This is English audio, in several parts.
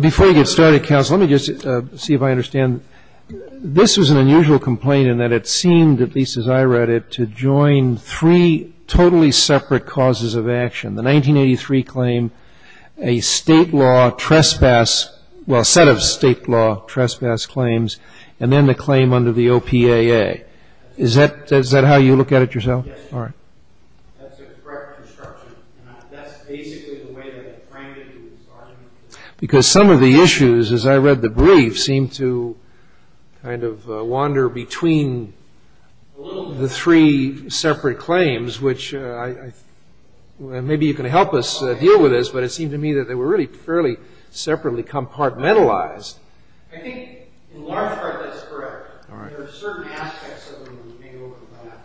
Before we get started, counsel, let me just see if I understand, this was an unusual complaint in that it seemed, at least as I read it, to join three totally separate causes of action. The 1983 claim, a state law trespass, well, a set of state law trespass claims, and then the claim under the OPAA. Is that how you look at it yourself? Yes, that's a correct description. That's basically the way they framed it in this argument. Because some of the issues, as I read the brief, seemed to kind of wander between the three separate claims, which maybe you can help us deal with this, but it seemed to me that they were really fairly separately compartmentalized. I think, in large part, that's correct. There are certain aspects that were made over that.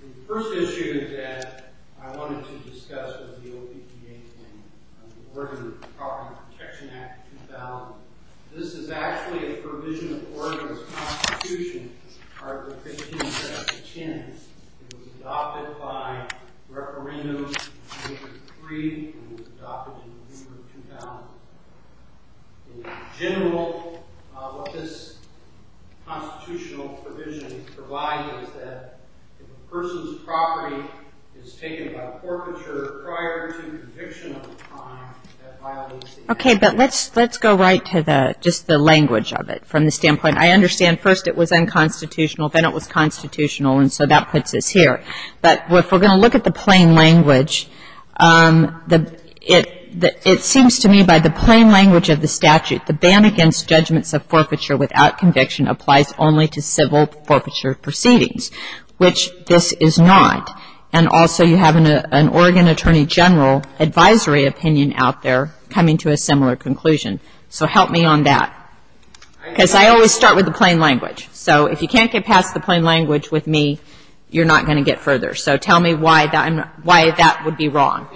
The first issue that I wanted to discuss was the OPPA claim, the Oregon Property Protection Act of 2000. This is actually a provision of Oregon's Constitution, Article 15, Section 10. It was adopted by referendum in 1983 and was adopted in December 2000. In general, what this constitutional provision provides is that if a person's property is taken by a forfeiture prior to conviction of a crime, that violates the act. Okay. But let's go right to just the language of it from the standpoint. I understand first it was unconstitutional, then it was constitutional, and so that puts us here. But if we're going to look at the plain language, it seems to me by the plain language of the statute, the ban against judgments of forfeiture without conviction applies only to civil forfeiture proceedings, which this is not. And also you have an Oregon Attorney General advisory opinion out there coming to a similar conclusion. So help me on that. Because I always start with the plain language. So if you can't get past the plain language with me, you're not going to get further. So tell me why that would be wrong.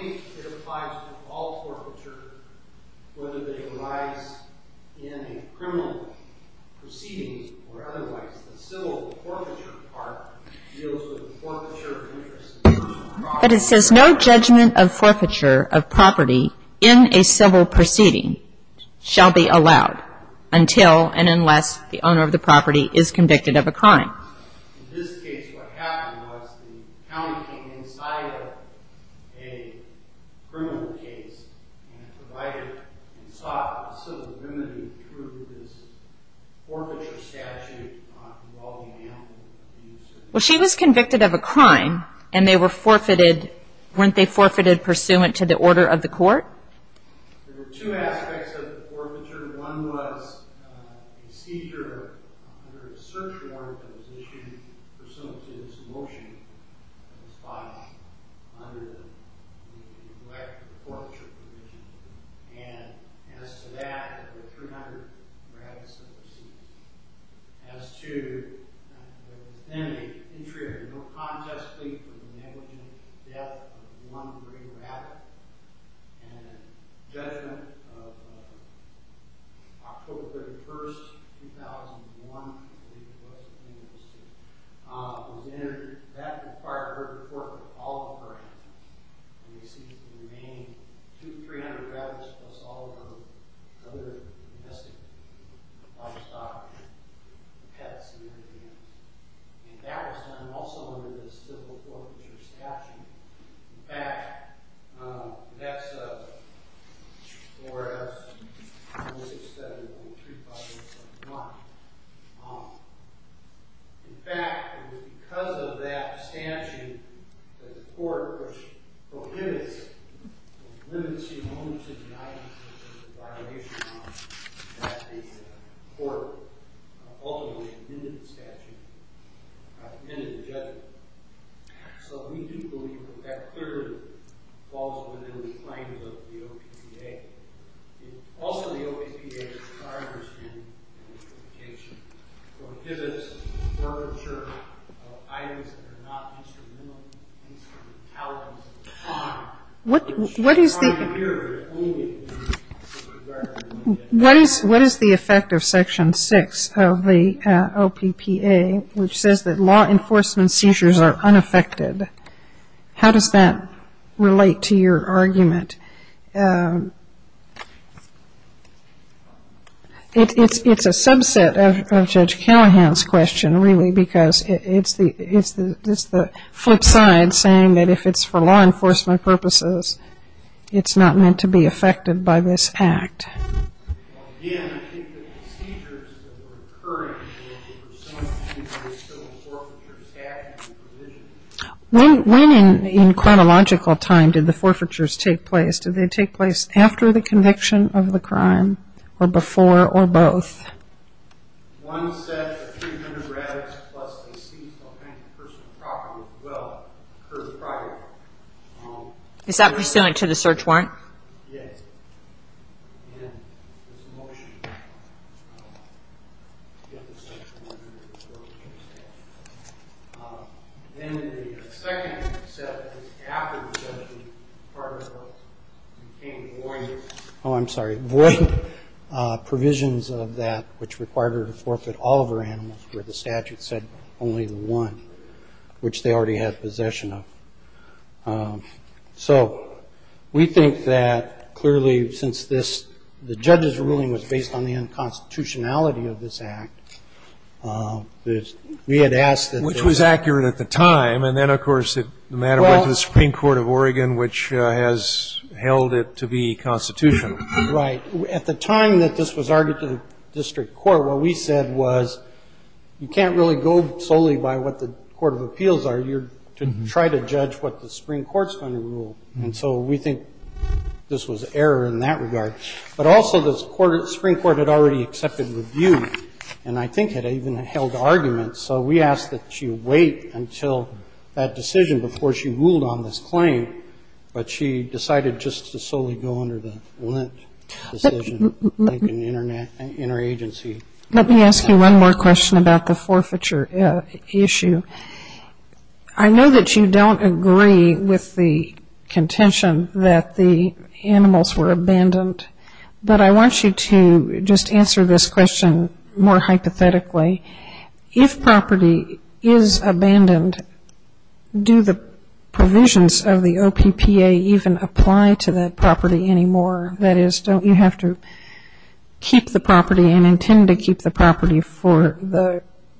But it says no judgment of forfeiture of property in a civil proceeding shall be allowed until and unless the owner of the property is convicted of a crime. Well, she was convicted of a crime, and they were forfeited. Weren't they forfeited pursuant to the order of the court? There were two aspects of the forfeiture. One was a seizure under a search warrant that was issued pursuant to this motion that was filed under the neglect of the forfeiture provision. And as to that, there were 300 rabbits that were seized. As to, there was then an entry of no contest plea for the negligent death of one great rabbit. And a judgment of October 31st, 2001, I believe it was, I think it was, was entered. That required a report of all of her animals. And they seized the remaining 300 rabbits, plus all of her other domestic livestock and pets and everything else. And that was done also under the civil forfeiture statute. In fact, that's 4S167.35. In fact, it was because of that statute that the court was prohibited, was limited to the moment of denial, which was a violation of that the court ultimately amended the statute, amended the judgment. So we do believe that that clearly falls within the claims of the OPPA. Also, the OPPA, as far as I understand, prohibits the forfeiture of items that are not instrumental in the case of retaliation of a crime. What is the effect of Section 6 of the OPPA, which says that law enforcement seizures are unaffected? How does that relate to your argument? It's a subset of Judge Callahan's question, really, because it's the flip side saying that if it's for law enforcement purposes, it's not meant to be affected by this act. When in chronological time did the forfeitures take place? Did they take place after the conviction of the crime, or before, or both? Is that pursuant to the search warrant? Oh, I'm sorry. Void provisions of that which required her to forfeit all of her animals were the statute said only the one, which they already had possession of. So we think that, clearly, since the judge's ruling was based on the unconstitutionality of this act, we had asked that there was... Which was accurate at the time, and then, of course, the matter went to the Supreme Court of Oregon, which has held it to be constitutional. Right. At the time that this was argued to the district court, what we said was, you can't really go solely by what the court of appeals argued to try to judge what the Supreme Court's going to rule. And so we think this was error in that regard. But also, the Supreme Court had already accepted the view, and I think had even held arguments. So we asked that she wait until that decision before she ruled on this claim, but she decided just to solely go under the Lent decision, I think, in her agency. Let me ask you one more question about the forfeiture issue. I know that you don't agree with the contention that the animals were abandoned, but I want you to just answer this question more hypothetically. If property is abandoned, do the provisions of the OPPA even apply to that property anymore? That is, don't you have to keep the property and intend to keep the property for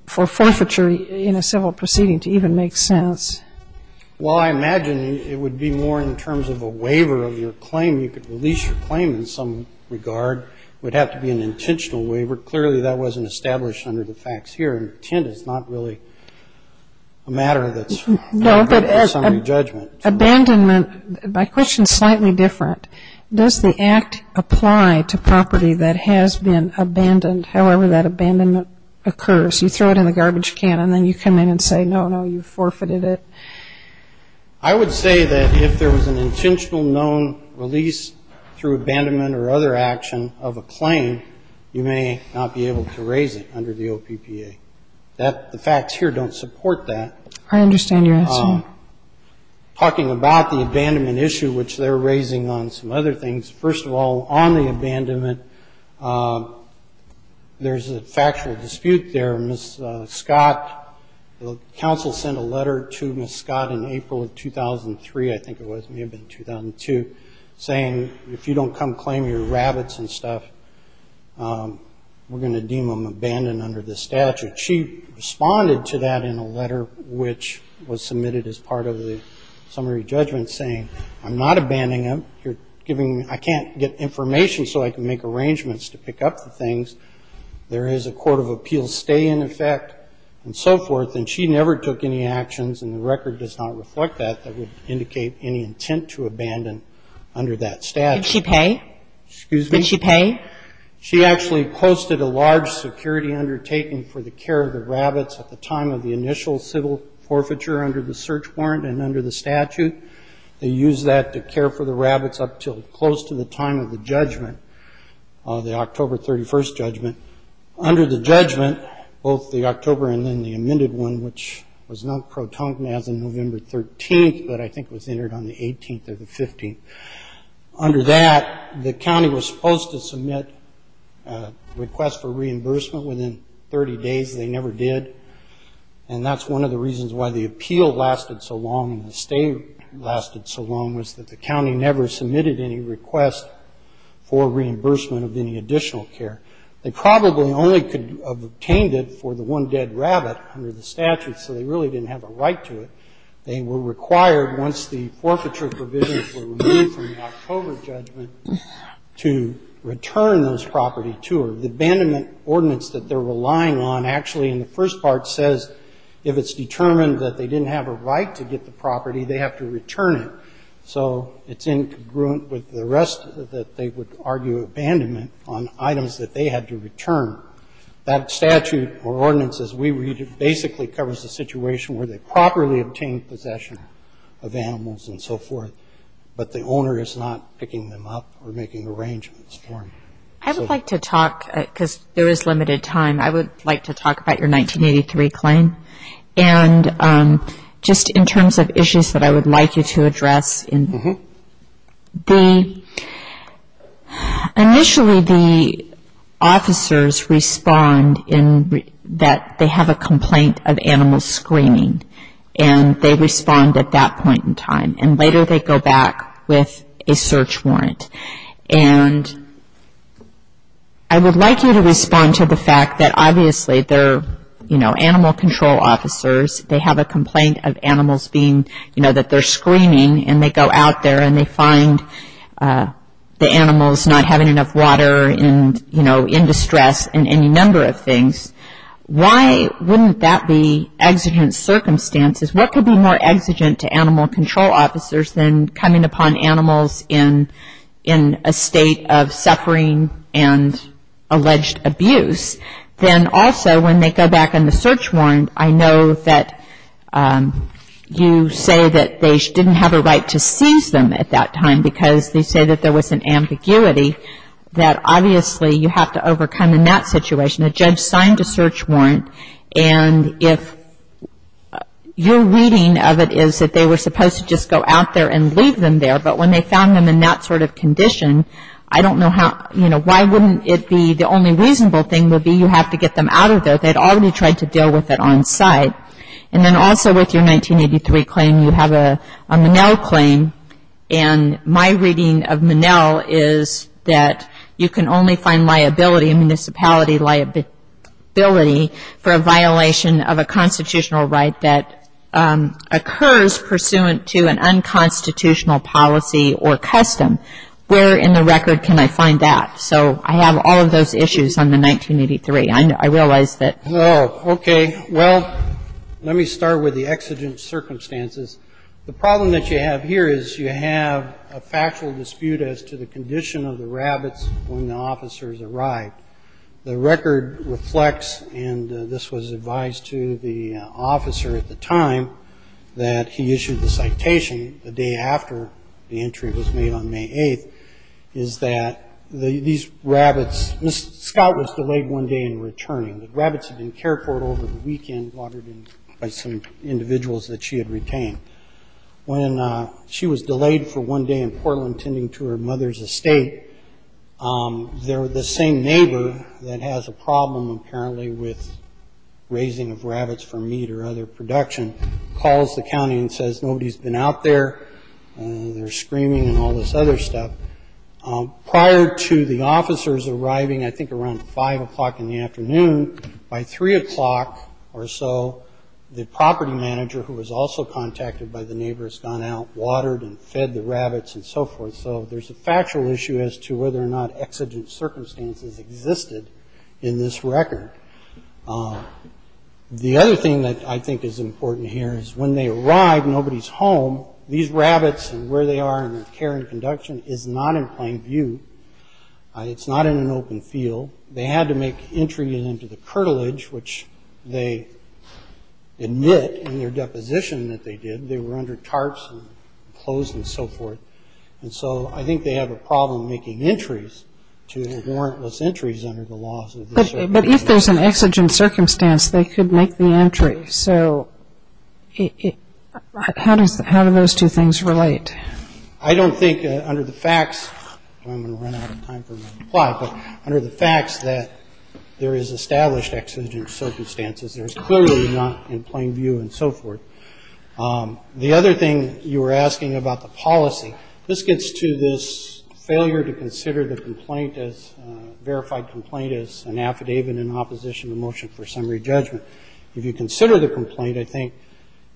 forfeiture in a civil proceeding to even make sense? Well, I imagine it would be more in terms of a waiver of your claim. You could release your claim in some regard. It would have to be an intentional waiver. Clearly, that wasn't established under the facts here. Intent is not really a matter that's under summary judgment. No, but abandonment, my question is slightly different. Does the Act apply to property that has been abandoned, however that abandonment occurs? You throw it in the garbage can, and then you come in and say, no, no, you forfeited it. I would say that if there was an intentional known release through abandonment or other action of a claim, you may not be able to raise it under the OPPA. The facts here don't support that. I understand your answer. Talking about the abandonment issue, which they're raising on some other things, first of all, on the abandonment, there's a factual dispute there. Ms. Scott, the council sent a letter to Ms. Scott in April of 2003, I think it was, may have been 2002, saying if you don't come claim your rabbits and stuff, we're going to deem them abandoned under the statute. She responded to that in a letter which was submitted as part of the summary judgment, saying, I'm not abandoning them. I can't get information so I can make arrangements to pick up the things. There is a court of appeals stay in effect and so forth, and she never took any actions, and the record does not reflect that that would indicate any intent to abandon under that statute. Did she pay? Excuse me? Did she pay? She actually posted a large security undertaking for the care of the rabbits at the time of the initial civil forfeiture under the search warrant and under the statute. They used that to care for the rabbits up until close to the time of the judgment, the October 31st judgment. Under the judgment, both the October and then the amended one, which was not protoned as of November 13th, but I think was entered on the 18th or the 15th. Under that, the county was supposed to submit a request for reimbursement within 30 days. They never did. And that's one of the reasons why the appeal lasted so long and the stay lasted so long, was that the county never submitted any request for reimbursement of any additional care. They probably only could have obtained it for the one dead rabbit under the statute, so they really didn't have a right to it. They were required, once the forfeiture provisions were removed from the October judgment, to return those property to her. The abandonment ordinance that they're relying on actually, in the first part, says if it's determined that they didn't have a right to get the property, they have to return it. So it's incongruent with the rest that they would argue abandonment on items that they had to return. That statute or ordinance, as we read it, basically covers the situation where they properly obtained possession of animals and so forth, but the owner is not picking them up or making arrangements for them. I would like to talk, because there is limited time, I would like to talk about your 1983 claim. And just in terms of issues that I would like you to address, initially the officers respond in that they have a complaint of animal screening, and they respond at that point in time. And later they go back with a search warrant. And I would like you to respond to the fact that, obviously, they're, you know, animal control officers. They have a complaint of animals being, you know, that they're screening, and they go out there and they find the animals not having enough water and, you know, in distress and any number of things. Why wouldn't that be exigent circumstances? What could be more exigent to animal control officers than coming upon animals in a state of suffering and alleged abuse? Then, also, when they go back on the search warrant, I know that you say that they didn't have a right to seize them at that time because they say that there was an ambiguity that, obviously, you have to overcome in that situation. A judge signed a search warrant. And if your reading of it is that they were supposed to just go out there and leave them there, but when they found them in that sort of condition, I don't know how, you know, why wouldn't it be the only reasonable thing would be you have to get them out of there? They had already tried to deal with it on site. And then, also, with your 1983 claim, you have a Monell claim. And my reading of Monell is that you can only find liability, municipality liability, for a violation of a constitutional right that occurs pursuant to an unconstitutional policy or custom. Where in the record can I find that? So I have all of those issues on the 1983. I realize that. Oh, okay. Well, let me start with the exigent circumstances. The problem that you have here is you have a factual dispute as to the condition of the rabbits when the officers arrived. The record reflects, and this was advised to the officer at the time that he issued the citation, the day after the entry was made on May 8th, is that these rabbits, Miss Scott was delayed one day in returning. The rabbits had been cared for over the weekend by some individuals that she had retained. When she was delayed for one day in Portland, tending to her mother's estate, the same neighbor that has a problem, apparently, with raising of rabbits for meat or other production, calls the county and says, nobody's been out there. They're screaming and all this other stuff. Prior to the officers arriving, I think around 5 o'clock in the afternoon, by 3 o'clock or so, the property manager who was also contacted by the neighbor has gone out, watered and fed the rabbits and so forth. So there's a factual issue as to whether or not exigent circumstances existed in this record. The other thing that I think is important here is when they arrive, nobody's home. So these rabbits and where they are and their care and conduction is not in plain view. It's not in an open field. They had to make entry into the curtilage, which they admit in their deposition that they did. They were under tarps and clothes and so forth. And so I think they have a problem making entries to warrantless entries under the laws of this record. But if there's an exigent circumstance, they could make the entry. So how do those two things relate? I don't think under the facts, I'm going to run out of time for my reply, but under the facts that there is established exigent circumstances, there's clearly not in plain view and so forth. The other thing you were asking about the policy, this gets to this failure to consider the complaint as verified complaint as an affidavit in opposition to motion for summary judgment. If you consider the complaint, I think,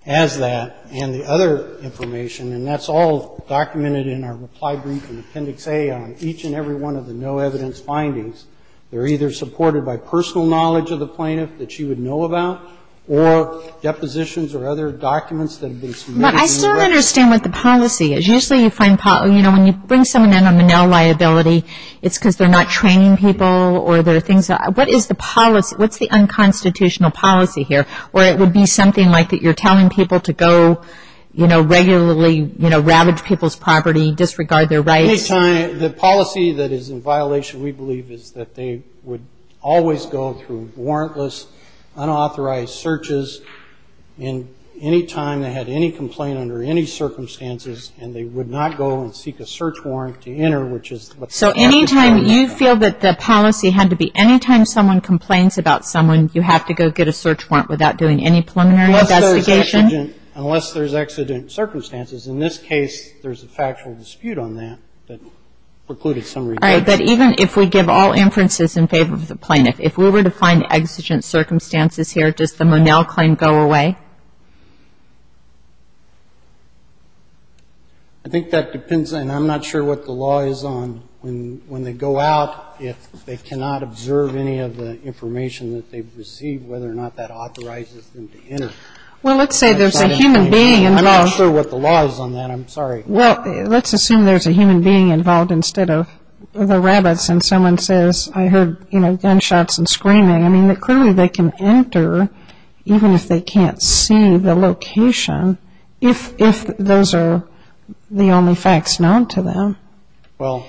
as that and the other information, and that's all documented in our reply brief in Appendix A on each and every one of the no-evidence findings. They're either supported by personal knowledge of the plaintiff that she would know about or depositions or other documents that have been submitted in the record. But I still don't understand what the policy is. Usually you find, you know, when you bring someone in on Manel liability, it's because they're not training people or there are things. What is the policy? What's the unconstitutional policy here? Or it would be something like that you're telling people to go, you know, regularly, you know, ravage people's property, disregard their rights? The policy that is in violation, we believe, is that they would always go through warrantless unauthorized searches and any time they had any complaint under any circumstances and they would not go and seek a search warrant to enter, which is what's in Appendix A on that. Any time you feel that the policy had to be any time someone complains about someone, you have to go get a search warrant without doing any preliminary investigation? Unless there's exigent circumstances. In this case, there's a factual dispute on that that precluded some rejection. All right. But even if we give all inferences in favor of the plaintiff, if we were to find exigent circumstances here, does the Manel claim go away? I think that depends, and I'm not sure what the law is on, when they go out, if they cannot observe any of the information that they've received, whether or not that authorizes them to enter. Well, let's say there's a human being involved. I'm not sure what the law is on that. I'm sorry. Well, let's assume there's a human being involved instead of the rabbits and someone says, I heard, you know, gunshots and screaming. I mean, clearly they can enter, even if they can't see the location, if those are the only facts known to them. Well,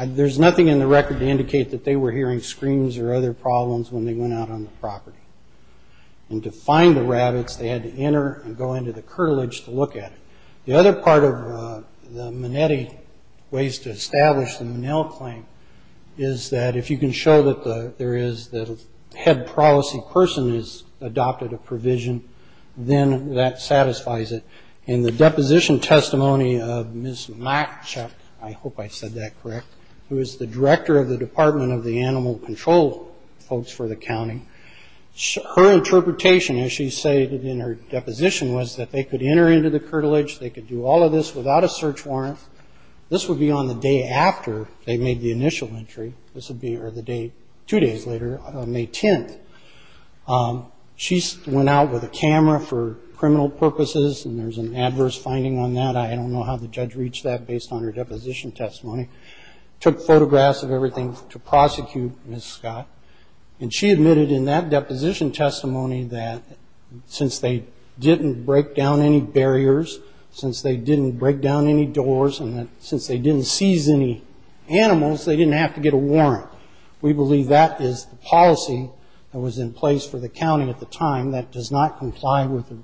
there's nothing in the record to indicate that they were hearing screams or other problems when they went out on the property. And to find the rabbits, they had to enter and go into the curtilage to look at it. The other part of the Manetti ways to establish the Manel claim is that if you can show that there is a head policy person has adopted a provision, then that satisfies it. In the deposition testimony of Ms. Machuk, I hope I said that correct, who is the director of the Department of the Animal Control folks for the county, her interpretation, as she stated in her deposition, was that they could enter into the curtilage, they could do all of this without a search warrant. This would be on the day after they made the initial entry. This would be two days later, May 10th. She went out with a camera for criminal purposes, and there's an adverse finding on that. I don't know how the judge reached that based on her deposition testimony. Took photographs of everything to prosecute Ms. Scott. And she admitted in that deposition testimony that since they didn't break down any barriers, since they didn't break down any doors, and since they didn't seize any animals, they didn't have to get a warrant. We believe that is the policy that was in place for the county at the time that does not comply with the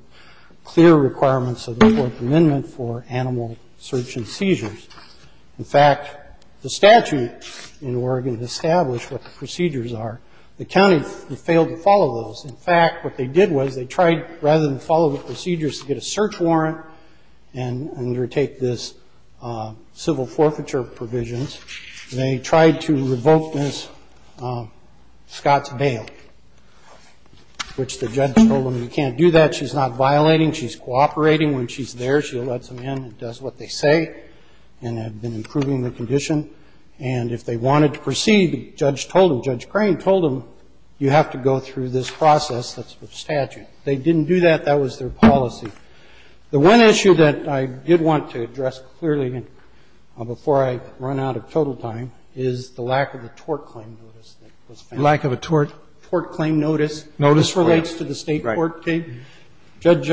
clear requirements of the Fourth Amendment for animal search and seizures. In fact, the statute in Oregon established what the procedures are. The county failed to follow those. In fact, what they did was they tried, rather than follow the procedures, to get a search warrant and undertake this civil forfeiture provisions. They tried to revoke Ms. Scott's bail, which the judge told them, you can't do that. She's not violating. She's cooperating. When she's there, she lets them in and does what they say and has been improving the condition. And if they wanted to proceed, the judge told them, Judge Crane told them, you have to go through this process that's in the statute. They didn't do that. That was their policy. The one issue that I did want to address clearly, before I run out of total time, is the lack of a tort claim notice that was found. Lack of a tort? Tort claim notice. Notice for what? This relates to the state court case. Judge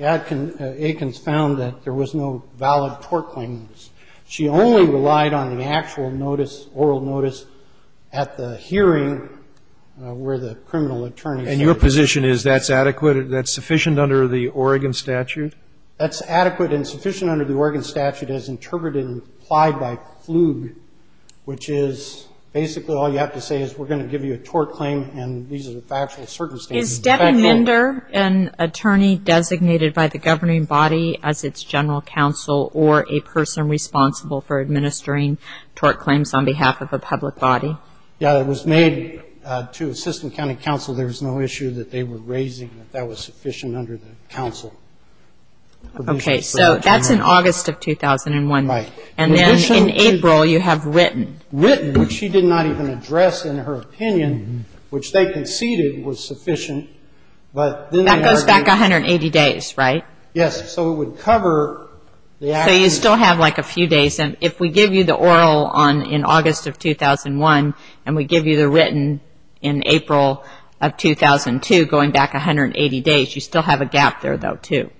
Adkins found that there was no valid tort claim notice. She only relied on the actual notice, oral notice, at the hearing where the criminal attorney said. And your position is that's adequate, that's sufficient under the Oregon statute? That's adequate and sufficient under the Oregon statute as interpreted and applied by FLUG, which is basically all you have to say is we're going to give you a tort claim and these are the factual circumstances. Is Debbie Minder an attorney designated by the governing body as its general counsel or a person responsible for administering tort claims on behalf of a public body? Yeah, it was made to assistant county counsel. There was no issue that they were raising that that was sufficient under the counsel. Okay. So that's in August of 2001. Right. And then in April you have written. Written, which she did not even address in her opinion, which they conceded was sufficient. That goes back 180 days, right? Yes. So it would cover the actual. So you still have like a few days. And if we give you the oral in August of 2001 and we give you the written in April of 2002 going back 180 days, you still have a gap there, though, too.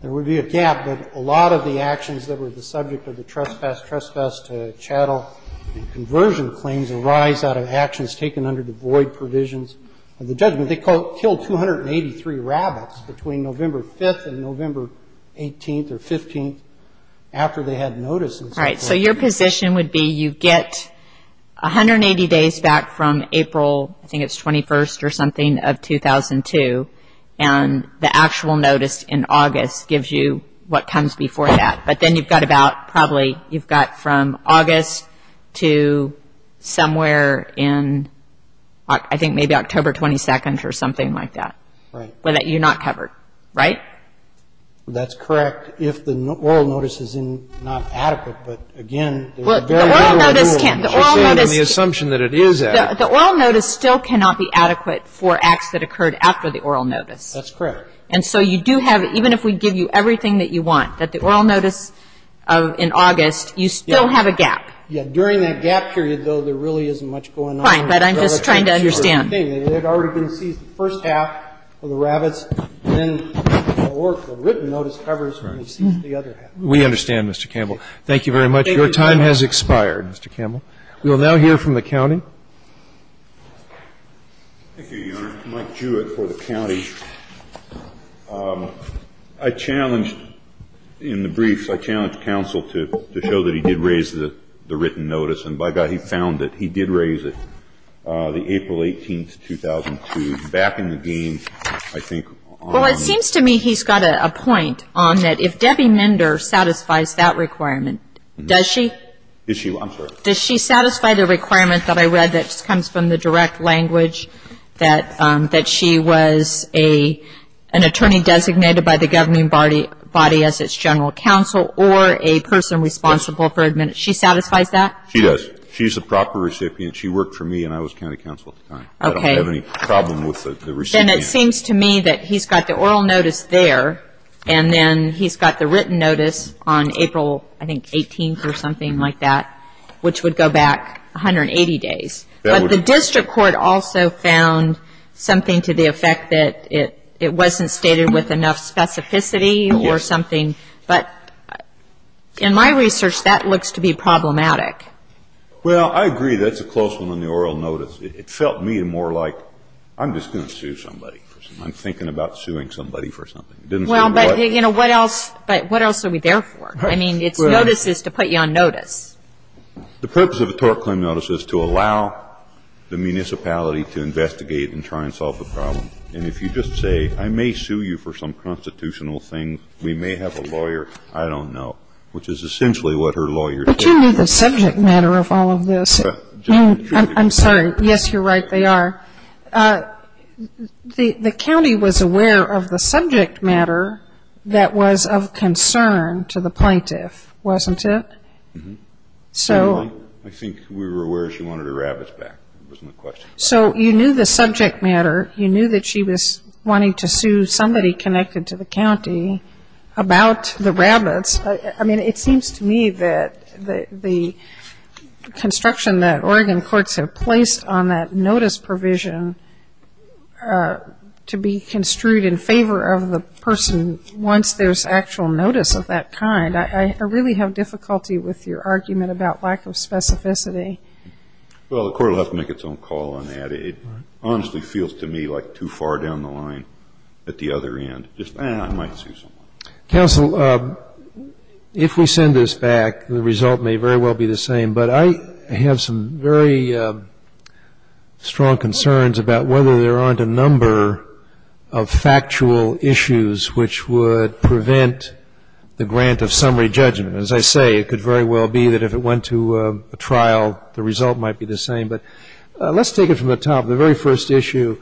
There would be a gap, but a lot of the actions that were the subject of the trespass, trespass to chattel and conversion claims arise out of actions taken under the void provisions of the judgment. They killed 283 rabbits between November 5th and November 18th or 15th after they had notices. Right. So your position would be you get 180 days back from April, I think it's 21st or something, of 2002, and the actual notice in August gives you what comes before that. But then you've got about probably you've got from August to somewhere in, I think, maybe October 22nd or something like that. Right. But you're not covered, right? That's correct if the oral notice is not adequate. But, again, there are very little rules. She's saying on the assumption that it is adequate. The oral notice still cannot be adequate for acts that occurred after the oral notice. That's correct. And so you do have, even if we give you everything that you want, that the oral notice in August, you still have a gap. Yeah. During that gap period, though, there really isn't much going on. Fine. But I'm just trying to understand. They had already been seized the first half of the rabbits, and then the written notice covers when they seized the other half. We understand, Mr. Campbell. Thank you very much. Your time has expired, Mr. Campbell. We will now hear from the county. Thank you, Your Honor. Mike Jewett for the county. I challenged in the briefs, I challenged counsel to show that he did raise the written notice, and by God, he found it. He did raise it, the April 18th, 2002, back in the game, I think. Well, it seems to me he's got a point on that if Debbie Mender satisfies that requirement, does she? Is she? I'm sorry. Does she satisfy the requirement that I read that comes from the direct language that she was an attorney designated by the governing body as its general counsel or a person responsible for administering? She satisfies that? She does. She's the proper recipient. She worked for me, and I was county counsel at the time. Okay. I don't have any problem with the recipient. Then it seems to me that he's got the oral notice there, and then he's got the written notice on April, I think, 18th or something like that, which would go back 180 days. But the district court also found something to the effect that it wasn't stated with enough specificity or something. But in my research, that looks to be problematic. Well, I agree. That's a close one on the oral notice. It felt to me more like I'm just going to sue somebody. I'm thinking about suing somebody for something. Well, but, you know, what else are we there for? I mean, it's notices to put you on notice. The purpose of a tort claim notice is to allow the municipality to investigate and try and solve the problem. And if you just say, I may sue you for some constitutional thing, we may have a lawyer, I don't know, which is essentially what her lawyer did. But you knew the subject matter of all of this. I'm sorry. Yes, you're right. They are. The county was aware of the subject matter that was of concern to the plaintiff, wasn't it? I think we were aware she wanted her rabbits back. That wasn't the question. So you knew the subject matter. You knew that she was wanting to sue somebody connected to the county about the rabbits. I mean, it seems to me that the construction that Oregon courts have placed on that notice provision to be construed in favor of the person once there's actual notice of that kind, I really have difficulty with your argument about lack of specificity. Well, the court will have to make its own call on that. It honestly feels to me like too far down the line at the other end, just, ah, I might sue someone. Counsel, if we send this back, the result may very well be the same. But I have some very strong concerns about whether there aren't a number of factual issues which would prevent the grant of summary judgment. As I say, it could very well be that if it went to a trial, the result might be the same. But let's take it from the top. The very first issue,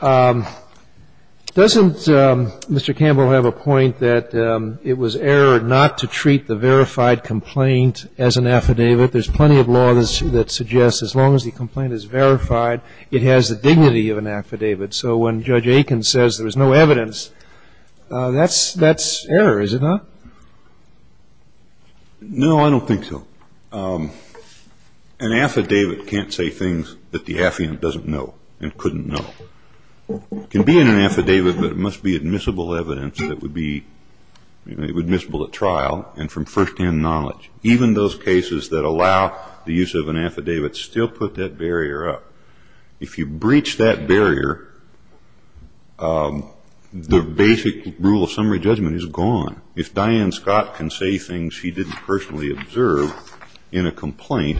doesn't Mr. Campbell have a point that it was error not to treat the verified complaint as an affidavit? There's plenty of law that suggests as long as the complaint is verified, it has the dignity of an affidavit. So when Judge Aiken says there was no evidence, that's error, is it not? No, I don't think so. An affidavit can't say things that the affiant doesn't know and couldn't know. It can be in an affidavit, but it must be admissible evidence that would be admissible at trial and from firsthand knowledge. Even those cases that allow the use of an affidavit still put that barrier up. If you breach that barrier, the basic rule of summary judgment is gone. If Diane Scott can say things she didn't personally observe in a complaint,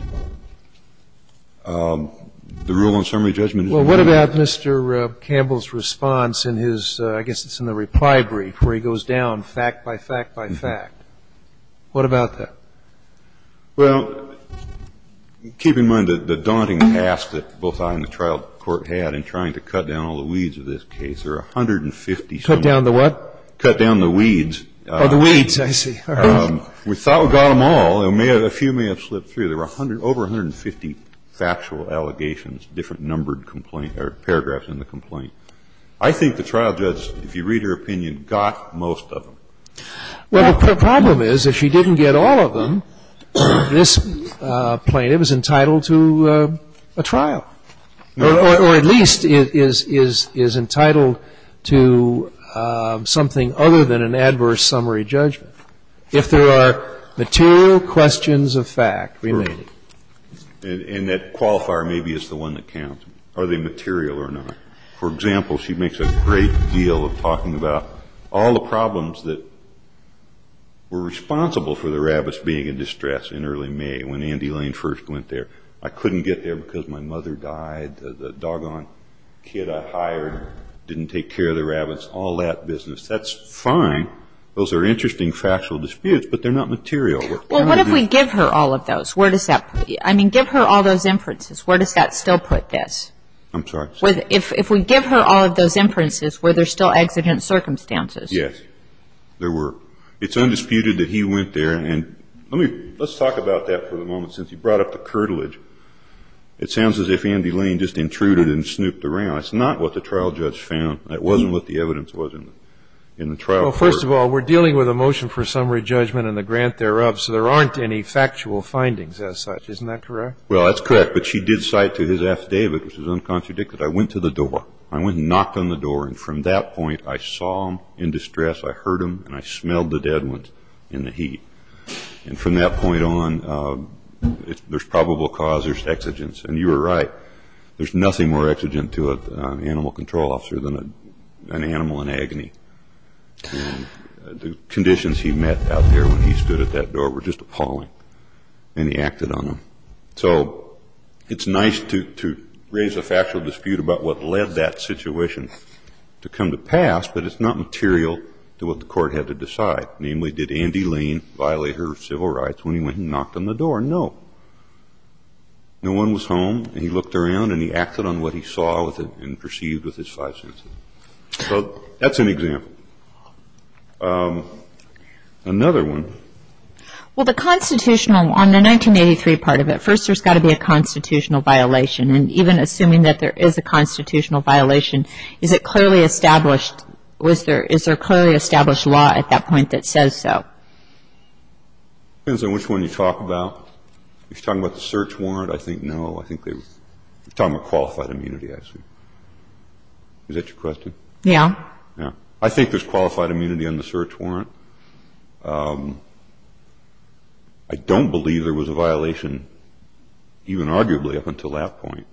the rule of summary judgment is gone. Well, what about Mr. Campbell's response in his, I guess it's in the reply brief, where he goes down fact by fact by fact? What about that? Well, keep in mind the daunting task that both I and the trial court had in trying to cut down all the weeds of this case. There are 150- Cut down the what? Cut down the weeds. Oh, the weeds. I see. We thought we got them all. A few may have slipped through. There were over 150 factual allegations, different numbered complaint or paragraphs in the complaint. I think the trial judge, if you read her opinion, got most of them. Well, the problem is if she didn't get all of them, this plaintiff is entitled to a trial. Or at least is entitled to something other than an adverse summary judgment. If there are material questions of fact remaining. And that qualifier maybe is the one that counts. Are they material or not? For example, she makes a great deal of talking about all the problems that were responsible for the rabbits being in distress in early May, when Andy Lane first went there. I couldn't get there because my mother died, the doggone kid I hired didn't take care of the rabbits, all that business. That's fine. Those are interesting factual disputes, but they're not material. Well, what if we give her all of those? Where does that put you? I mean, give her all those inferences. Where does that still put this? I'm sorry? If we give her all of those inferences, were there still accident circumstances? Yes. There were. It's undisputed that he went there. And let's talk about that for a moment, since you brought up the curtilage. It sounds as if Andy Lane just intruded and snooped around. It's not what the trial judge found. It wasn't what the evidence was in the trial court. Well, first of all, we're dealing with a motion for summary judgment and the grant thereof, so there aren't any factual findings as such. Isn't that correct? Well, that's correct. But she did cite to his affidavit, which is uncontradicted, I went to the door. I went and knocked on the door, and from that point I saw him in distress, I heard him, and I smelled the dead ones in the heat. And from that point on, there's probable cause, there's exigence. And you were right. There's nothing more exigent to an animal control officer than an animal in agony. The conditions he met out there when he stood at that door were just appalling, and he acted on them. So it's nice to raise a factual dispute about what led that situation to come to pass, but it's not material to what the court had to decide. Namely, did Andy Lane violate her civil rights when he went and knocked on the door? No. No one was home, and he looked around, and he acted on what he saw and perceived with his five senses. So that's an example. Another one. Well, the constitutional, on the 1983 part of it, first there's got to be a constitutional violation, and even assuming that there is a constitutional violation, is it clearly established, is there a clearly established law at that point that says so? Depends on which one you talk about. If you're talking about the search warrant, I think no. I think they were talking about qualified immunity, actually. Is that your question? Yeah. I think there's qualified immunity on the search warrant. I don't believe there was a violation, even arguably, up until that point.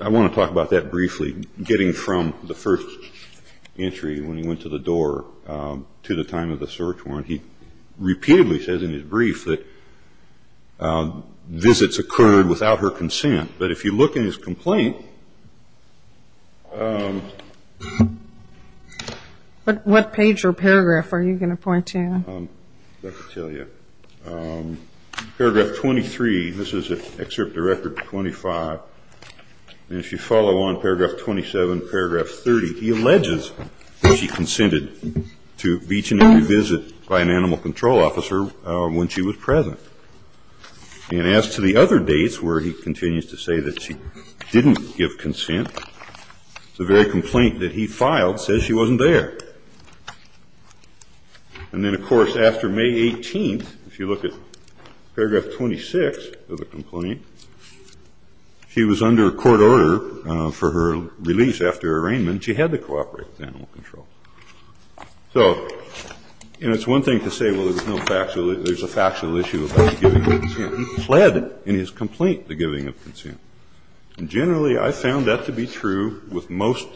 I want to talk about that briefly, getting from the first entry when he went to the door to the time of the search warrant. He repeatedly says in his brief that visits occurred without her consent. But if you look in his complaint. What page or paragraph are you going to point to? Let me tell you. Paragraph 23, this is an excerpt of Record 25, and if you follow on, paragraph 27, paragraph 30, he alleges that she consented to each and every visit by an animal control officer when she was present. And as to the other dates where he continues to say that she didn't give consent, the very complaint that he filed says she wasn't there. And then, of course, after May 18th, if you look at paragraph 26 of the complaint, she was under a court order for her release after arraignment. She had to cooperate with animal control. So, you know, it's one thing to say, well, there's no factual issue. There's a factual issue about giving consent. He pled in his complaint the giving of consent. And generally, I found that to be true with most,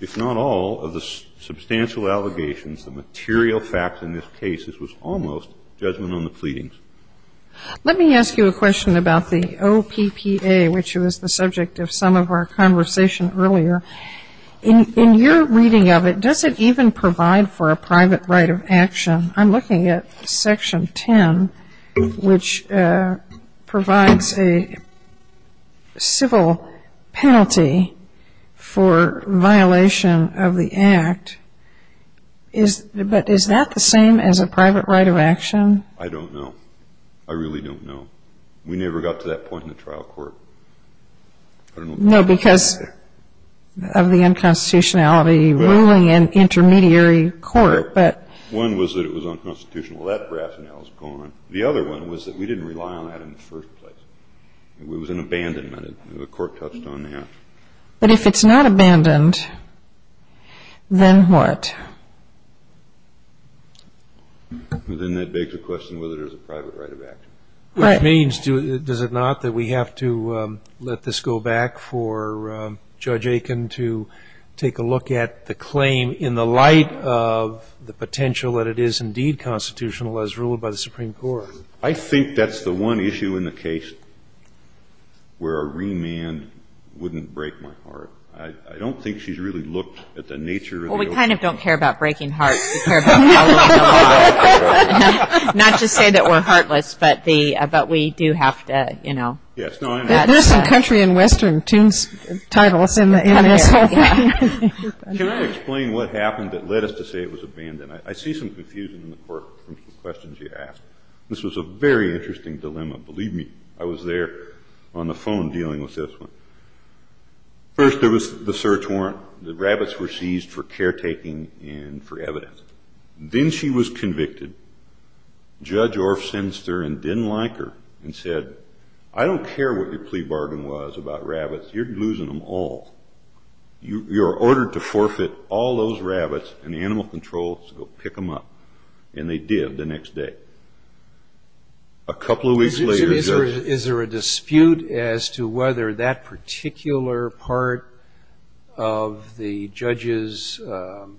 if not all, of the substantial allegations. The material facts in this case, this was almost judgment on the pleadings. Let me ask you a question about the OPPA, which was the subject of some of our conversation earlier. In your reading of it, does it even provide for a private right of action? I'm looking at Section 10, which provides a civil penalty for violation of the act. But is that the same as a private right of action? I don't know. I really don't know. We never got to that point in the trial court. No, because of the unconstitutionality ruling in intermediary court. One was that it was unconstitutional. That rationale is gone. The other one was that we didn't rely on that in the first place. It was an abandonment. The court touched on that. But if it's not abandoned, then what? Then that begs the question whether there's a private right of action. Which means, does it not, that we have to let this go back for Judge Aiken to take a look at the claim in the light of the potential that it is indeed constitutional as ruled by the Supreme Court? I think that's the one issue in the case where a remand wouldn't break my heart. I don't think she's really looked at the nature of the OPPA. Well, we kind of don't care about breaking hearts. We care about following the law. Not to say that we're heartless, but we do have to, you know. There's some country and western tunes titles in this whole thing. Can I explain what happened that led us to say it was abandoned? I see some confusion in the court from some questions you asked. This was a very interesting dilemma. Believe me, I was there on the phone dealing with this one. First, there was the search warrant. The rabbits were seized for caretaking and for evidence. Then she was convicted. Judge Orff sensed her and didn't like her and said, I don't care what your plea bargain was about rabbits. You're losing them all. You're ordered to forfeit all those rabbits and the animal control to go pick them up. And they did the next day. A couple of weeks later. Is there a dispute as to whether that particular part of the judge's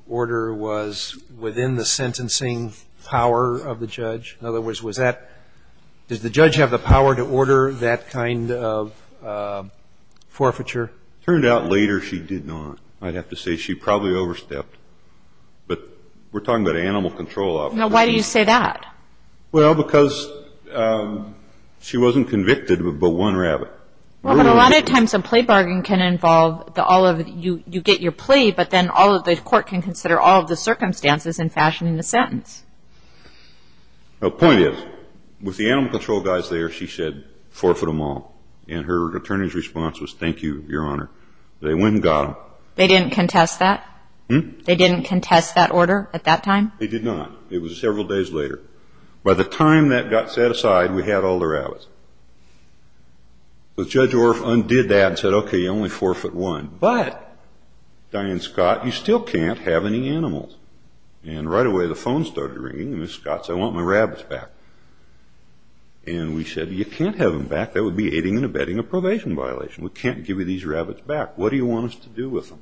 order was within the sentencing power of the judge? In other words, was that – does the judge have the power to order that kind of forfeiture? It turned out later she did not. I'd have to say she probably overstepped. But we're talking about animal control officers. Now, why do you say that? Well, because she wasn't convicted but one rabbit. Well, but a lot of times a plea bargain can involve you get your plea, but then the court can consider all of the circumstances in fashioning the sentence. The point is, with the animal control guys there, she said forfeit them all. And her attorney's response was, thank you, Your Honor. They went and got them. They didn't contest that? They didn't contest that order at that time? They did not. It was several days later. By the time that got set aside, we had all the rabbits. So Judge Orff undid that and said, okay, you only forfeit one. But, Diane Scott, you still can't have any animals. And right away the phone started ringing, and Ms. Scott said, I want my rabbits back. And we said, you can't have them back. That would be aiding and abetting a probation violation. We can't give you these rabbits back. What do you want us to do with them?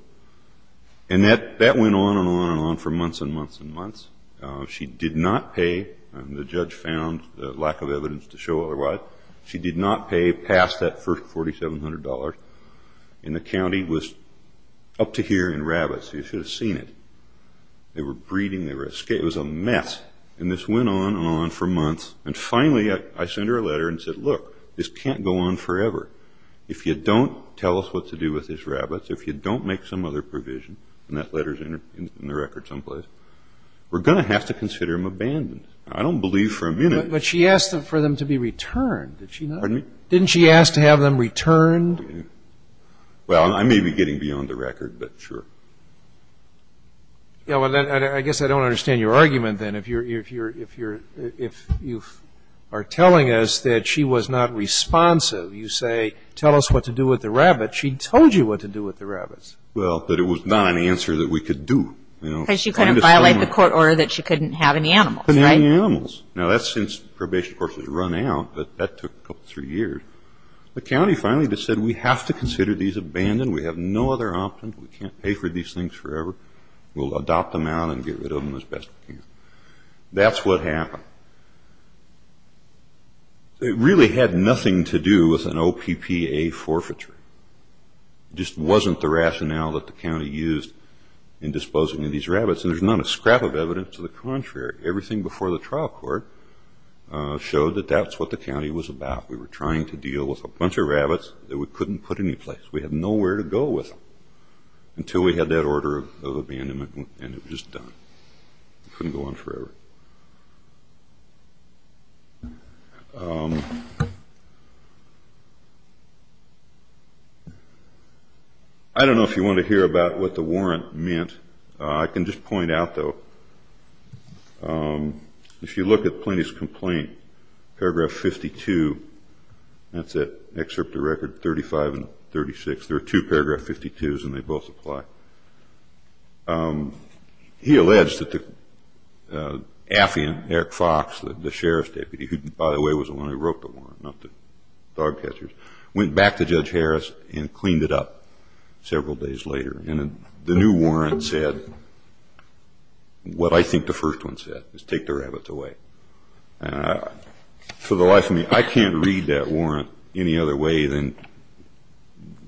And that went on and on and on for months and months and months. She did not pay. The judge found lack of evidence to show otherwise. She did not pay past that first $4,700. And the county was up to here in rabbits. You should have seen it. They were breeding. It was a mess. And this went on and on for months. And finally I sent her a letter and said, look, this can't go on forever. If you don't tell us what to do with these rabbits, if you don't make some other provision, and that letter is in the record someplace, we're going to have to consider them abandoned. I don't believe for a minute. But she asked for them to be returned. Did she not? Didn't she ask to have them returned? Well, I may be getting beyond the record, but sure. I guess I don't understand your argument then. If you are telling us that she was not responsive, you say, tell us what to do with the rabbit. She told you what to do with the rabbits. Well, but it was not an answer that we could do. Because she couldn't violate the court order that she couldn't have any animals, right? Couldn't have any animals. Now, that's since probation, of course, has run out, but that took a couple, three years. The county finally just said, we have to consider these abandoned. We have no other option. We can't pay for these things forever. We'll adopt them out and get rid of them as best we can. That's what happened. It really had nothing to do with an OPPA forfeiture. It just wasn't the rationale that the county used in disposing of these rabbits. And there's not a scrap of evidence to the contrary. Everything before the trial court showed that that's what the county was about. We were trying to deal with a bunch of rabbits that we couldn't put anyplace. We had nowhere to go with them until we had that order of abandonment, and it was just done. It couldn't go on forever. I don't know if you want to hear about what the warrant meant. I can just point out, though, if you look at Plenty's complaint, paragraph 52, that's that excerpt of record 35 and 36. There are two paragraph 52s, and they both apply. He alleged that the affiant, Eric Fox, the sheriff's deputy, who, by the way, was the one who wrote the warrant, not the dog catchers, went back to Judge Harris and cleaned it up several days later. And the new warrant said what I think the first one said, was take the rabbits away. For the life of me, I can't read that warrant any other way than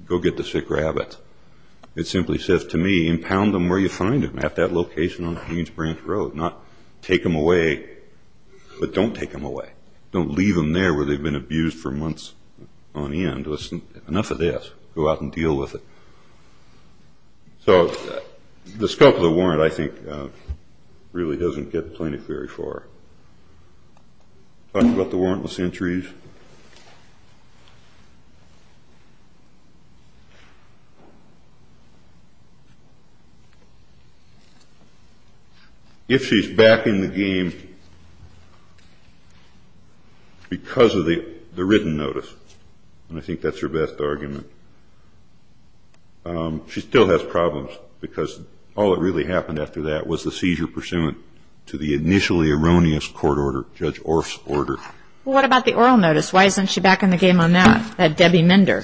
go get the sick rabbits. It simply says to me, impound them where you find them, at that location on Queens Branch Road. Not take them away, but don't take them away. Don't leave them there where they've been abused for months on end. Enough of this. Go out and deal with it. So the scope of the warrant, I think, really doesn't get Plenty very far. Talk about the warrantless entries. If she's backing the game because of the written notice, and I think that's her best argument, she still has problems because all that really happened after that was the seizure pursuant to the initially erroneous court order, Judge Orff's order. Well, what about the oral notice? Why isn't she backing the game on that? Debbie Minder.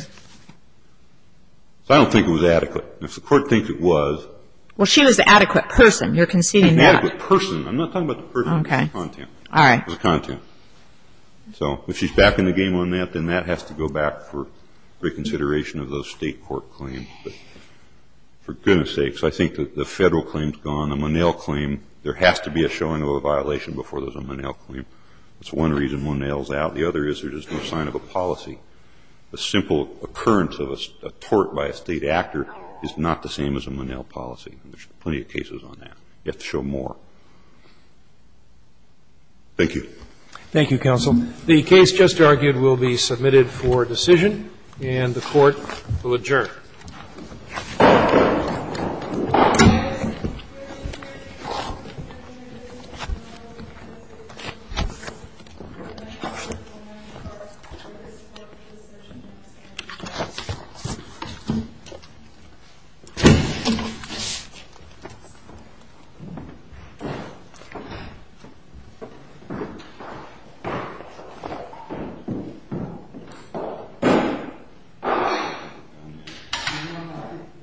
I don't think it was adequate. If the court thinks it was. Well, she was the adequate person. You're conceding that. Adequate person. I'm not talking about the person. Okay. The content. All right. The content. So if she's backing the game on that, then that has to go back for reconsideration of those state court claims. But for goodness sakes, I think that the Federal claim's gone. The Monell claim, there has to be a showing of a violation before there's a Monell claim. That's one reason Monell's out. The other is there's no sign of a policy. A simple occurrence of a tort by a State actor is not the same as a Monell policy. There's plenty of cases on that. You have to show more. Thank you. Thank you, counsel. The case just argued will be submitted for decision, and the Court will adjourn. Thank you. Thank you.